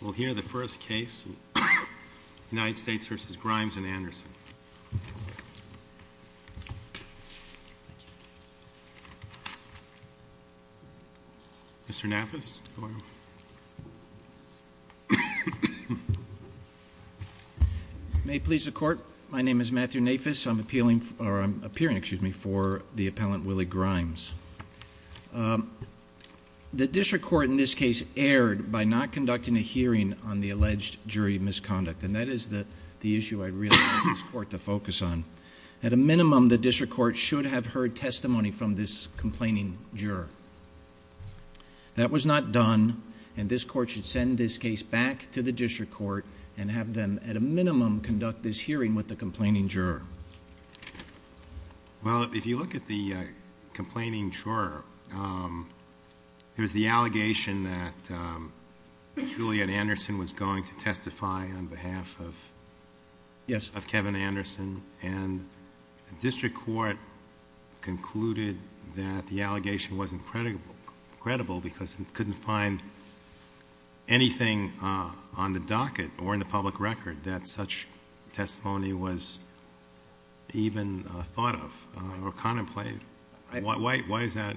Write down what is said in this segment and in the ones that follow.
We'll hear the first case, United States v. Grimes and Anderson. Mr. Nafis, go ahead. May it please the Court, my name is Matthew Nafis. I'm appealing, or I'm appearing, excuse me, for the appellant Willie Grimes. The District Court in this case erred by not conducting a hearing on the alleged jury misconduct. And that is the issue I'd really like this Court to focus on. At a minimum, the District Court should have heard testimony from this complaining juror. That was not done, and this Court should send this case back to the District Court and have them, at a minimum, conduct this hearing with the complaining juror. Well, if you look at the complaining juror, there's the allegation that Juliet Anderson was going to testify on behalf of Kevin Anderson. And the District Court concluded that the allegation wasn't credible because it couldn't find anything on the docket or in the public record that such testimony was even thought of or contemplated. Why is that?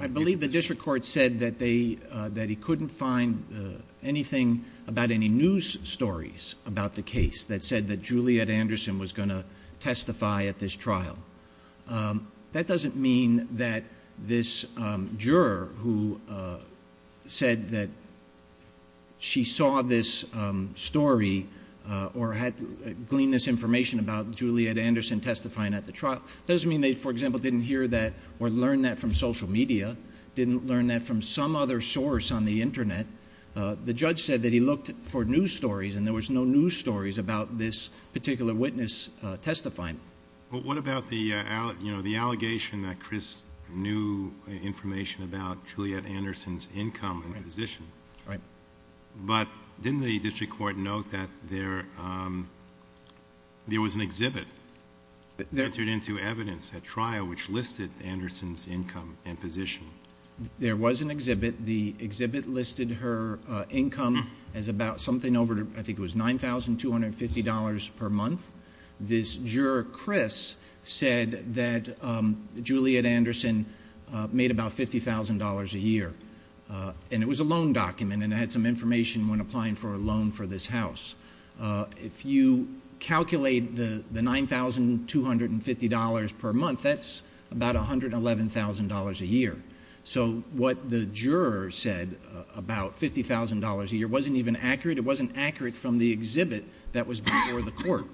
I believe the District Court said that he couldn't find anything about any news stories about the case that said that Juliet Anderson was going to testify at this trial. That doesn't mean that this juror who said that she saw this story or had gleaned this information about Juliet Anderson testifying at the trial, doesn't mean they, for example, didn't hear that or learn that from social media, didn't learn that from some other source on the Internet. The judge said that he looked for news stories, and there was no news stories about this particular witness testifying. But what about the allegation that Chris knew information about Juliet Anderson's income and position? Right. But didn't the District Court note that there was an exhibit that entered into evidence at trial which listed Anderson's income and position? There was an exhibit. The exhibit listed her income as about something over, I think it was $9,250 per month. This juror, Chris, said that Juliet Anderson made about $50,000 a year, and it was a loan document and it had some information when applying for a loan for this house. If you calculate the $9,250 per month, that's about $111,000 a year. So what the juror said about $50,000 a year wasn't even accurate. It wasn't accurate from the exhibit that was before the court.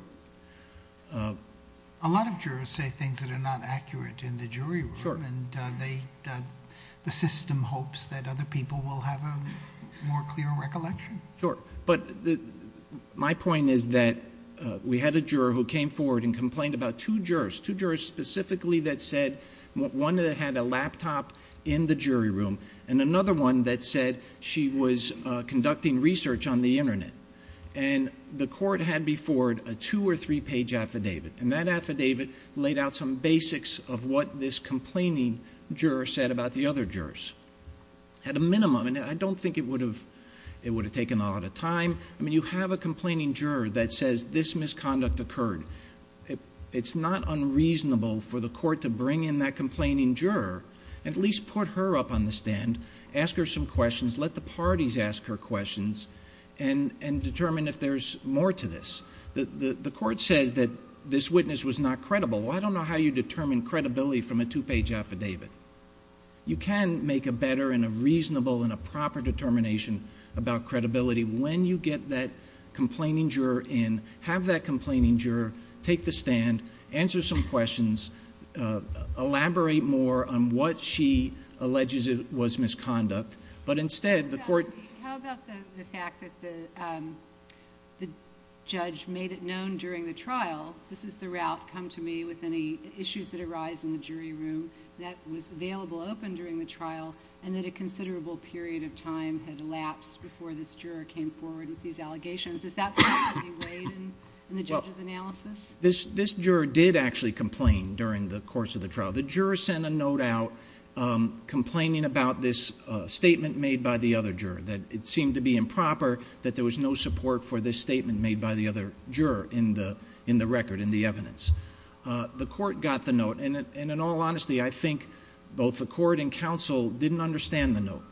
A lot of jurors say things that are not accurate in the jury room, and the system hopes that other people will have a more clear recollection. Sure. But my point is that we had a juror who came forward and complained about two jurors, two jurors specifically that said one had a laptop in the jury room and another one that said she was conducting research on the Internet. And the court had before it a two- or three-page affidavit, and that affidavit laid out some basics of what this complaining juror said about the other jurors at a minimum. And I don't think it would have taken a lot of time. I mean, you have a complaining juror that says this misconduct occurred. It's not unreasonable for the court to bring in that complaining juror, at least put her up on the stand, ask her some questions, let the parties ask her questions, and determine if there's more to this. The court says that this witness was not credible. Well, I don't know how you determine credibility from a two-page affidavit. You can make a better and a reasonable and a proper determination about credibility when you get that complaining juror in, have that complaining juror take the stand, answer some questions, elaborate more on what she alleges was misconduct. But instead, the court— How about the fact that the judge made it known during the trial, this is the route, come to me with any issues that arise in the jury room, that was available open during the trial and that a considerable period of time had elapsed before this juror came forward with these allegations. Is that part of the way in the judge's analysis? This juror did actually complain during the course of the trial. The juror sent a note out complaining about this statement made by the other juror, that it seemed to be improper, that there was no support for this statement made by the other juror in the record, in the evidence. The court got the note. And in all honesty, I think both the court and counsel didn't understand the note.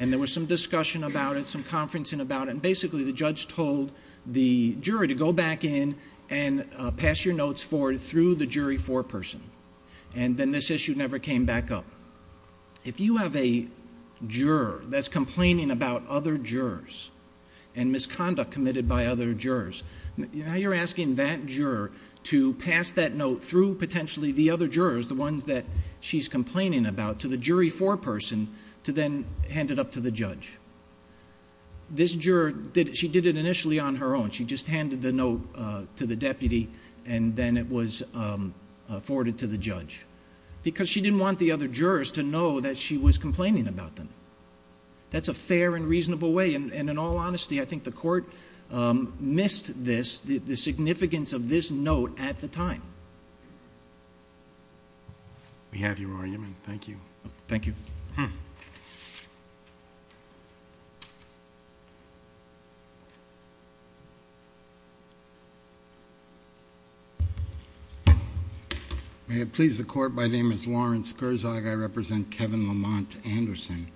And there was some discussion about it, some conferencing about it, and basically the judge told the jury to go back in and pass your notes forward through the jury foreperson. And then this issue never came back up. If you have a juror that's complaining about other jurors and misconduct committed by other jurors, now you're asking that juror to pass that note through potentially the other jurors, the ones that she's complaining about, to the jury foreperson to then hand it up to the judge. This juror, she did it initially on her own. She just handed the note to the deputy and then it was forwarded to the judge because she didn't want the other jurors to know that she was complaining about them. That's a fair and reasonable way. And in all honesty, I think the court missed this, the significance of this note at the time. We have your argument. Thank you. Thank you. May it please the court, my name is Lawrence Kurzog. I represent Kevin Lamont Anderson.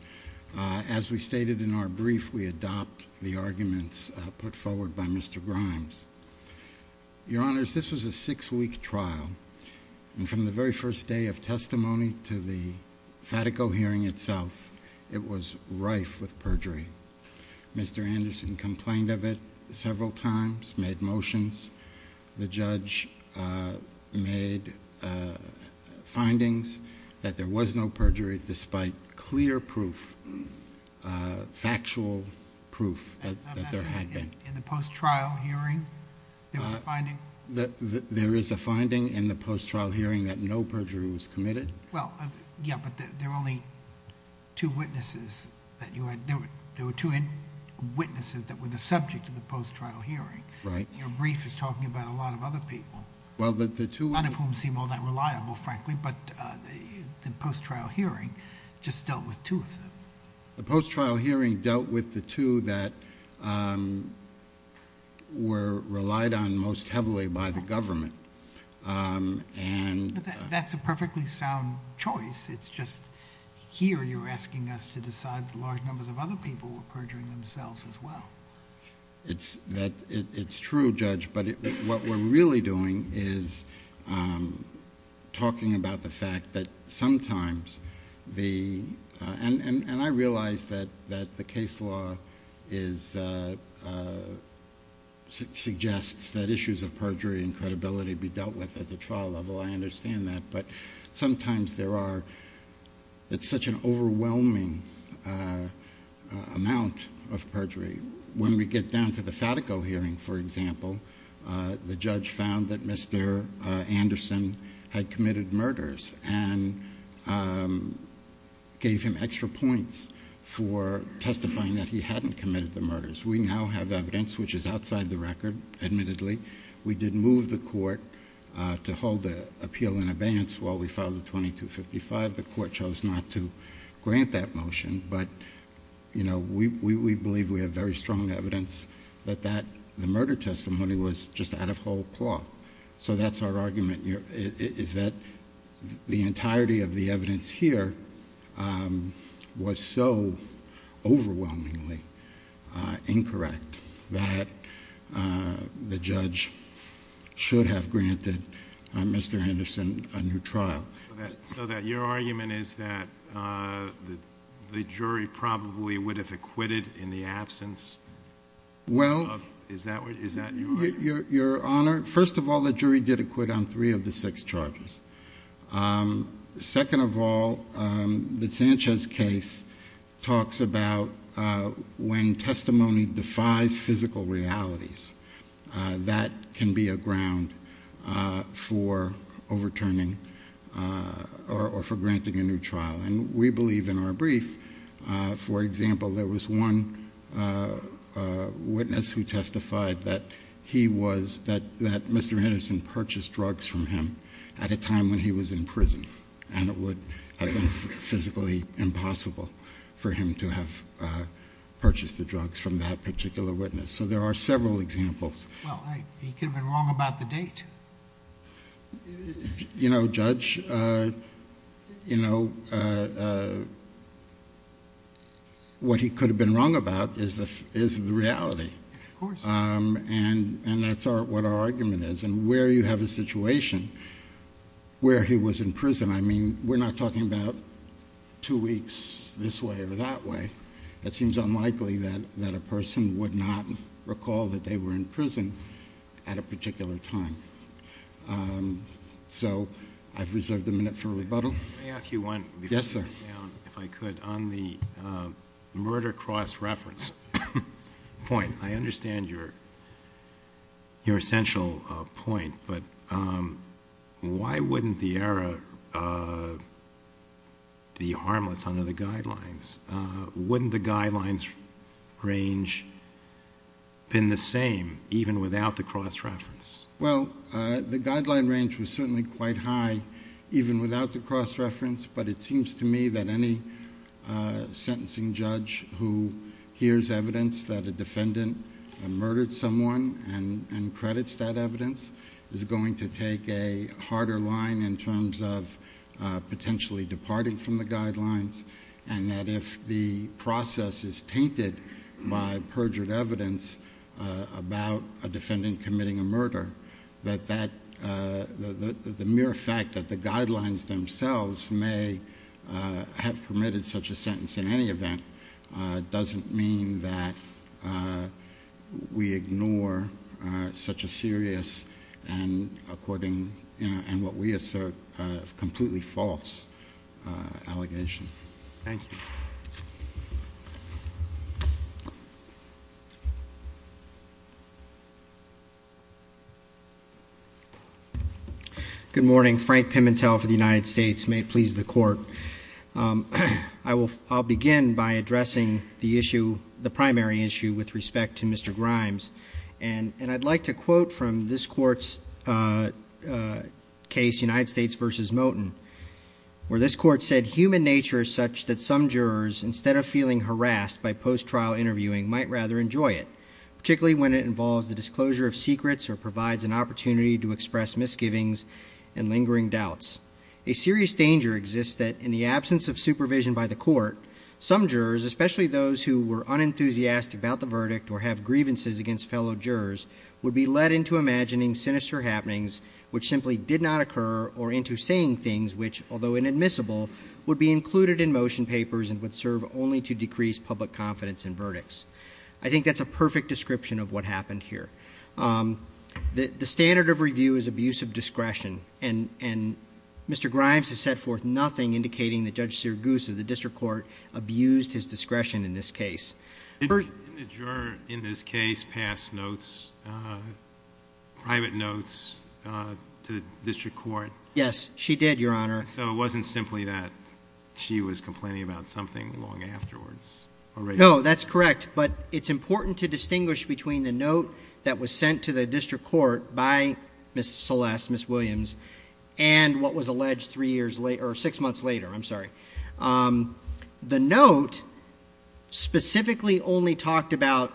As we stated in our brief, we adopt the arguments put forward by Mr. Grimes. Your Honors, this was a six-week trial. And from the very first day of testimony to the Fatico hearing itself, it was rife with perjury. Mr. Anderson complained of it several times, made motions. The judge made findings that there was no perjury despite clear proof, factual proof that there had been. In the post-trial hearing, there was a finding? There is a finding in the post-trial hearing that no perjury was committed. Well, yeah, but there were only two witnesses that you had... there were two witnesses that were the subject of the post-trial hearing. Right. Your brief is talking about a lot of other people. Well, the two... None of whom seem all that reliable, frankly, but the post-trial hearing just dealt with two of them. The post-trial hearing dealt with the two that were relied on most heavily by the government. And... That's a perfectly sound choice. It's just here you're asking us to decide that large numbers of other people were perjuring themselves as well. It's true, Judge, but what we're really doing is talking about the fact that sometimes the... and I realize that the case law suggests that issues of perjury and credibility be dealt with at the trial level. I understand that. But sometimes there are... it's such an overwhelming amount of perjury. When we get down to the Fatico hearing, for example, the judge found that Mr. Anderson had committed murders and gave him extra points for testifying that he hadn't committed the murders. We now have evidence which is outside the record, admittedly. We did move the court to hold the appeal in abeyance while we filed the 2255. The court chose not to grant that motion, but we believe we have very strong evidence that the murder testimony was just out of whole cloth. So that's our argument, is that the entirety of the evidence here was so overwhelmingly incorrect that the judge should have granted Mr. Anderson a new trial. So that your argument is that the jury probably would have acquitted in the absence of... Well... Is that your argument? Your Honor, first of all, the jury did acquit on three of the six charges. Second of all, the Sanchez case talks about when testimony defies physical realities. That can be a ground for overturning or for granting a new trial. And we believe in our brief, for example, there was one witness who testified that he was... that Mr. Anderson purchased drugs from him at a time when he was in prison. And it would have been physically impossible for him to have purchased the drugs from that particular witness. So there are several examples. Well, he could have been wrong about the date. You know, Judge, you know, what he could have been wrong about is the reality. Of course. And that's what our argument is. And where you have a situation where he was in prison, I mean, we're not talking about two weeks this way or that way. It seems unlikely that a person would not recall that they were in prison at a particular time. So I've reserved a minute for rebuttal. May I ask you one? Yes, sir. If I could. On the murder cross-reference point, I understand your essential point. But why wouldn't the error be harmless under the guidelines? Wouldn't the guidelines range have been the same even without the cross-reference? Well, the guideline range was certainly quite high even without the cross-reference. But it seems to me that any sentencing judge who hears evidence that a defendant murdered someone and credits that evidence is going to take a harder line in terms of potentially departing from the guidelines. And that if the process is tainted by perjured evidence about a defendant committing a murder, that the mere fact that the guidelines themselves may have permitted such a sentence in any event doesn't mean that we ignore such a serious and, according to what we assert, completely false allegation. Thank you. Good morning. Frank Pimentel for the United States. May it please the Court. I'll begin by addressing the issue, the primary issue, with respect to Mr. Grimes. And I'd like to quote from this Court's case, United States v. Moten, where this Court said, Human nature is such that some jurors, instead of feeling harassed by post-trial interviewing, might rather enjoy it, particularly when it involves the disclosure of secrets or provides an opportunity to express misgivings and lingering doubts. A serious danger exists that, in the absence of supervision by the Court, some jurors, especially those who were unenthusiastic about the verdict or have grievances against fellow jurors, would be led into imagining sinister happenings, which simply did not occur, or into saying things which, although inadmissible, would be included in motion papers and would serve only to decrease public confidence in verdicts. I think that's a perfect description of what happened here. The standard of review is abuse of discretion, and Mr. Grimes has set forth nothing indicating that Judge Sirigusa, the district court, abused his discretion in this case. Did the juror in this case pass notes, private notes, to the district court? Yes, she did, Your Honor. So it wasn't simply that she was complaining about something long afterwards? No, that's correct. But it's important to distinguish between the note that was sent to the district court by Ms. Celeste, Ms. Williams, and what was alleged six months later. The note specifically only talked about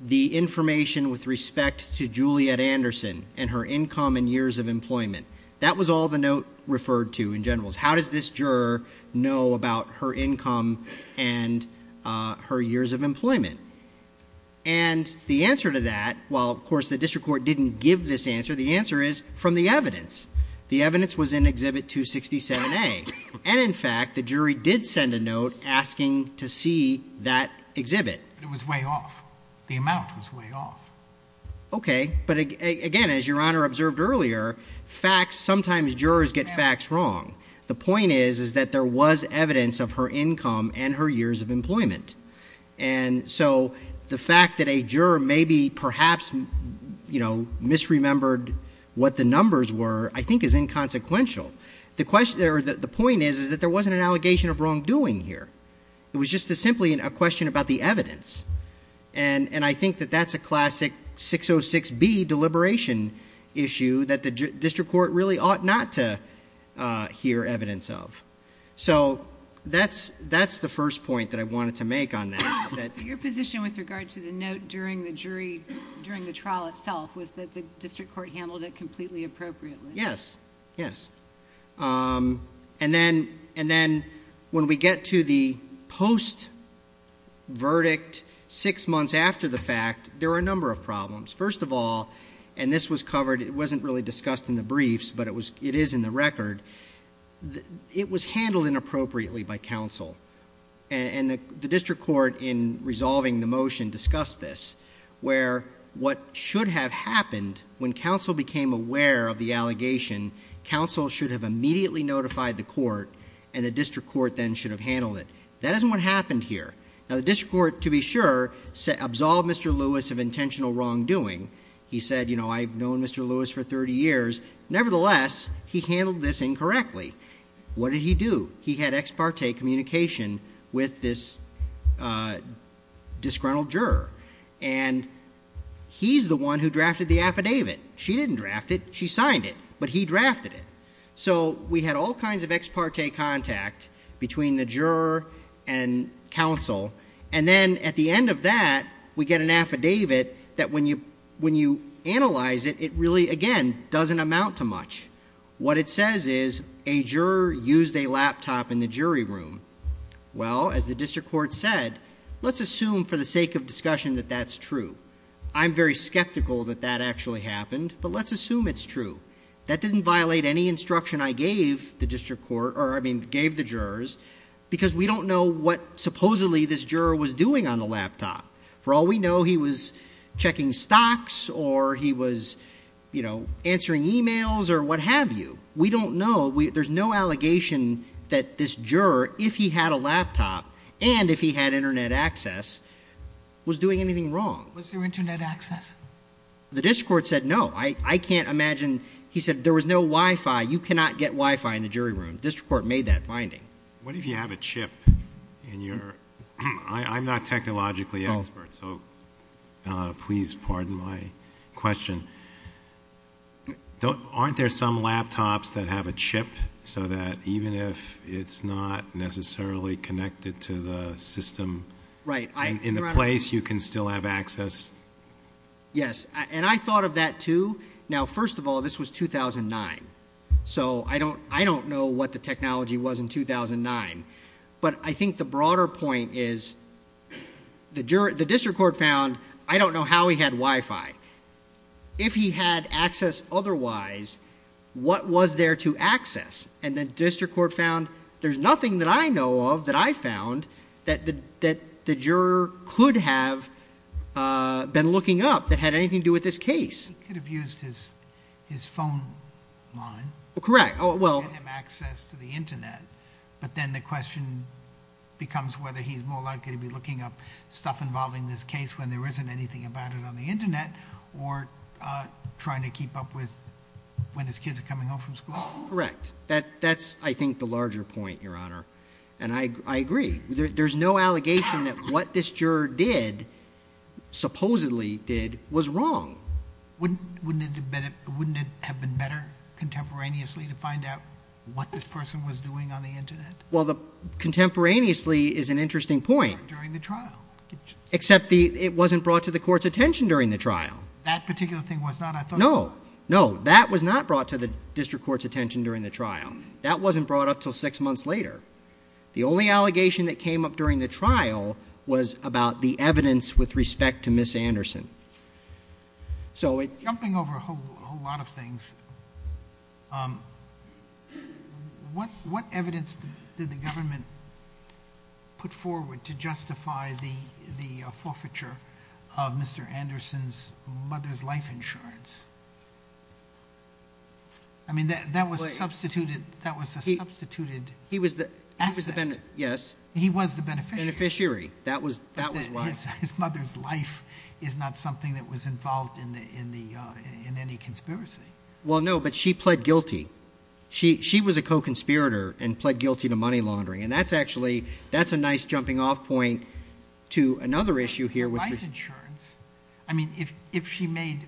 the information with respect to Juliet Anderson and her income and years of employment. That was all the note referred to in general. How does this juror know about her income and her years of employment? And the answer to that, while, of course, the district court didn't give this answer, the answer is from the evidence. The evidence was in Exhibit 267A. And, in fact, the jury did send a note asking to see that exhibit. But it was way off. The amount was way off. Okay. But, again, as Your Honor observed earlier, facts, sometimes jurors get facts wrong. The point is that there was evidence of her income and her years of employment. And so the fact that a juror maybe perhaps misremembered what the numbers were I think is inconsequential. The point is that there wasn't an allegation of wrongdoing here. It was just simply a question about the evidence. And I think that that's a classic 606B deliberation issue that the district court really ought not to hear evidence of. So that's the first point that I wanted to make on that. So your position with regard to the note during the trial itself was that the district court handled it completely appropriately? Yes. Yes. And then when we get to the post-verdict six months after the fact, there were a number of problems. First of all, and this was covered, it wasn't really discussed in the briefs, but it is in the record, it was handled inappropriately by counsel. And the district court in resolving the motion discussed this, where what should have happened when counsel became aware of the allegation, counsel should have immediately notified the court and the district court then should have handled it. That isn't what happened here. Now, the district court, to be sure, absolved Mr. Lewis of intentional wrongdoing. He said, you know, I've known Mr. Lewis for 30 years. Nevertheless, he handled this incorrectly. What did he do? He had ex parte communication with this disgruntled juror. And he's the one who drafted the affidavit. She didn't draft it. She signed it. But he drafted it. So we had all kinds of ex parte contact between the juror and counsel. And then at the end of that, we get an affidavit that when you analyze it, it really, again, doesn't amount to much. What it says is a juror used a laptop in the jury room. Well, as the district court said, let's assume for the sake of discussion that that's true. I'm very skeptical that that actually happened, but let's assume it's true. That doesn't violate any instruction I gave the district court, or I mean gave the jurors, because we don't know what supposedly this juror was doing on the laptop. For all we know, he was checking stocks or he was answering e-mails or what have you. We don't know. There's no allegation that this juror, if he had a laptop and if he had Internet access, was doing anything wrong. Was there Internet access? The district court said no. I can't imagine. He said there was no Wi-Fi. You cannot get Wi-Fi in the jury room. The district court made that finding. What if you have a chip? I'm not technologically expert, so please pardon my question. Aren't there some laptops that have a chip so that even if it's not necessarily connected to the system, in the place you can still have access? Yes, and I thought of that, too. Now, first of all, this was 2009. So I don't know what the technology was in 2009. But I think the broader point is the district court found I don't know how he had Wi-Fi. If he had access otherwise, what was there to access? And the district court found there's nothing that I know of that I found that the juror could have been looking up that had anything to do with this case. He could have used his phone line to get him access to the Internet, but then the question becomes whether he's more likely to be looking up stuff involving this case when there isn't anything about it on the Internet or trying to keep up with when his kids are coming home from school. Correct. That's, I think, the larger point, Your Honor, and I agree. There's no allegation that what this juror did, supposedly did, was wrong. Wouldn't it have been better contemporaneously to find out what this person was doing on the Internet? Well, contemporaneously is an interesting point. During the trial. Except it wasn't brought to the court's attention during the trial. That particular thing was not, I thought. No, no, that was not brought to the district court's attention during the trial. That wasn't brought up until six months later. The only allegation that came up during the trial was about the evidence with respect to Ms. Anderson. Jumping over a whole lot of things, what evidence did the government put forward to justify the forfeiture of Mr. Anderson's mother's life insurance? I mean, that was substituted. That was a substituted asset. Yes. He was the beneficiary. Beneficiary. That was why. His mother's life is not something that was involved in any conspiracy. Well, no, but she pled guilty. She was a co-conspirator and pled guilty to money laundering. And that's actually, that's a nice jumping off point to another issue here. I mean, if she made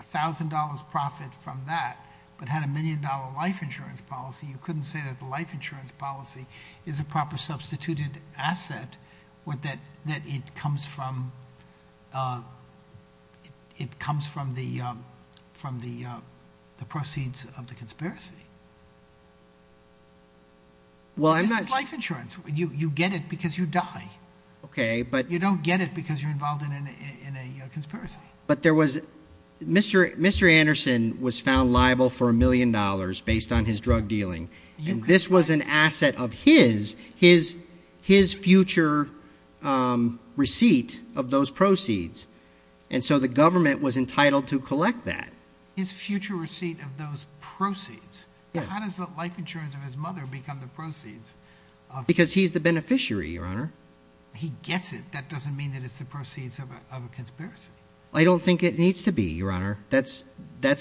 $1,000 profit from that, but had a million-dollar life insurance policy, you couldn't say that the life insurance policy is a proper substituted asset, that it comes from the proceeds of the conspiracy. This is life insurance. You get it because you die. Okay. You don't get it because you're involved in a conspiracy. But there was, Mr. Anderson was found liable for $1 million based on his drug dealing. And this was an asset of his, his future receipt of those proceeds. And so the government was entitled to collect that. His future receipt of those proceeds? How does the life insurance of his mother become the proceeds? Because he's the beneficiary, Your Honor. He gets it. That doesn't mean that it's the proceeds of a conspiracy. I don't think it needs to be, Your Honor. That's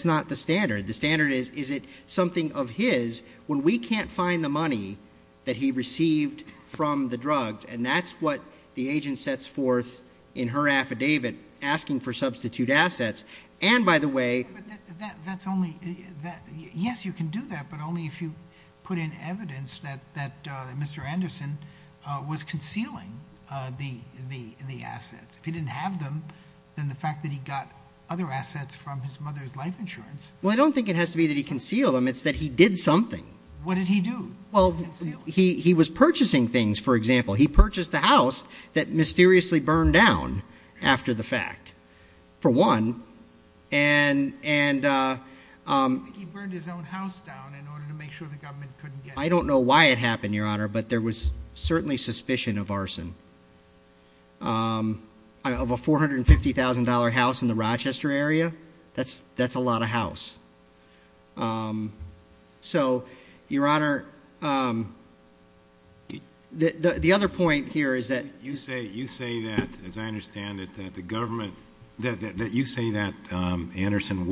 not the standard. The standard is, is it something of his when we can't find the money that he received from the drugs? And that's what the agent sets forth in her affidavit asking for substitute assets. Yes, you can do that, but only if you put in evidence that Mr. Anderson was concealing the assets. If he didn't have them, then the fact that he got other assets from his mother's life insurance. Well, I don't think it has to be that he concealed them. It's that he did something. What did he do? Well, he was purchasing things, for example. He purchased a house that mysteriously burned down after the fact. For one. And he burned his own house down in order to make sure the government couldn't get it. I don't know why it happened, Your Honor, but there was certainly suspicion of arson. Of a $450,000 house in the Rochester area, that's a lot of house. So, Your Honor, the other point here is that. You say that, as I understand it, that the government. That you say that Anderson.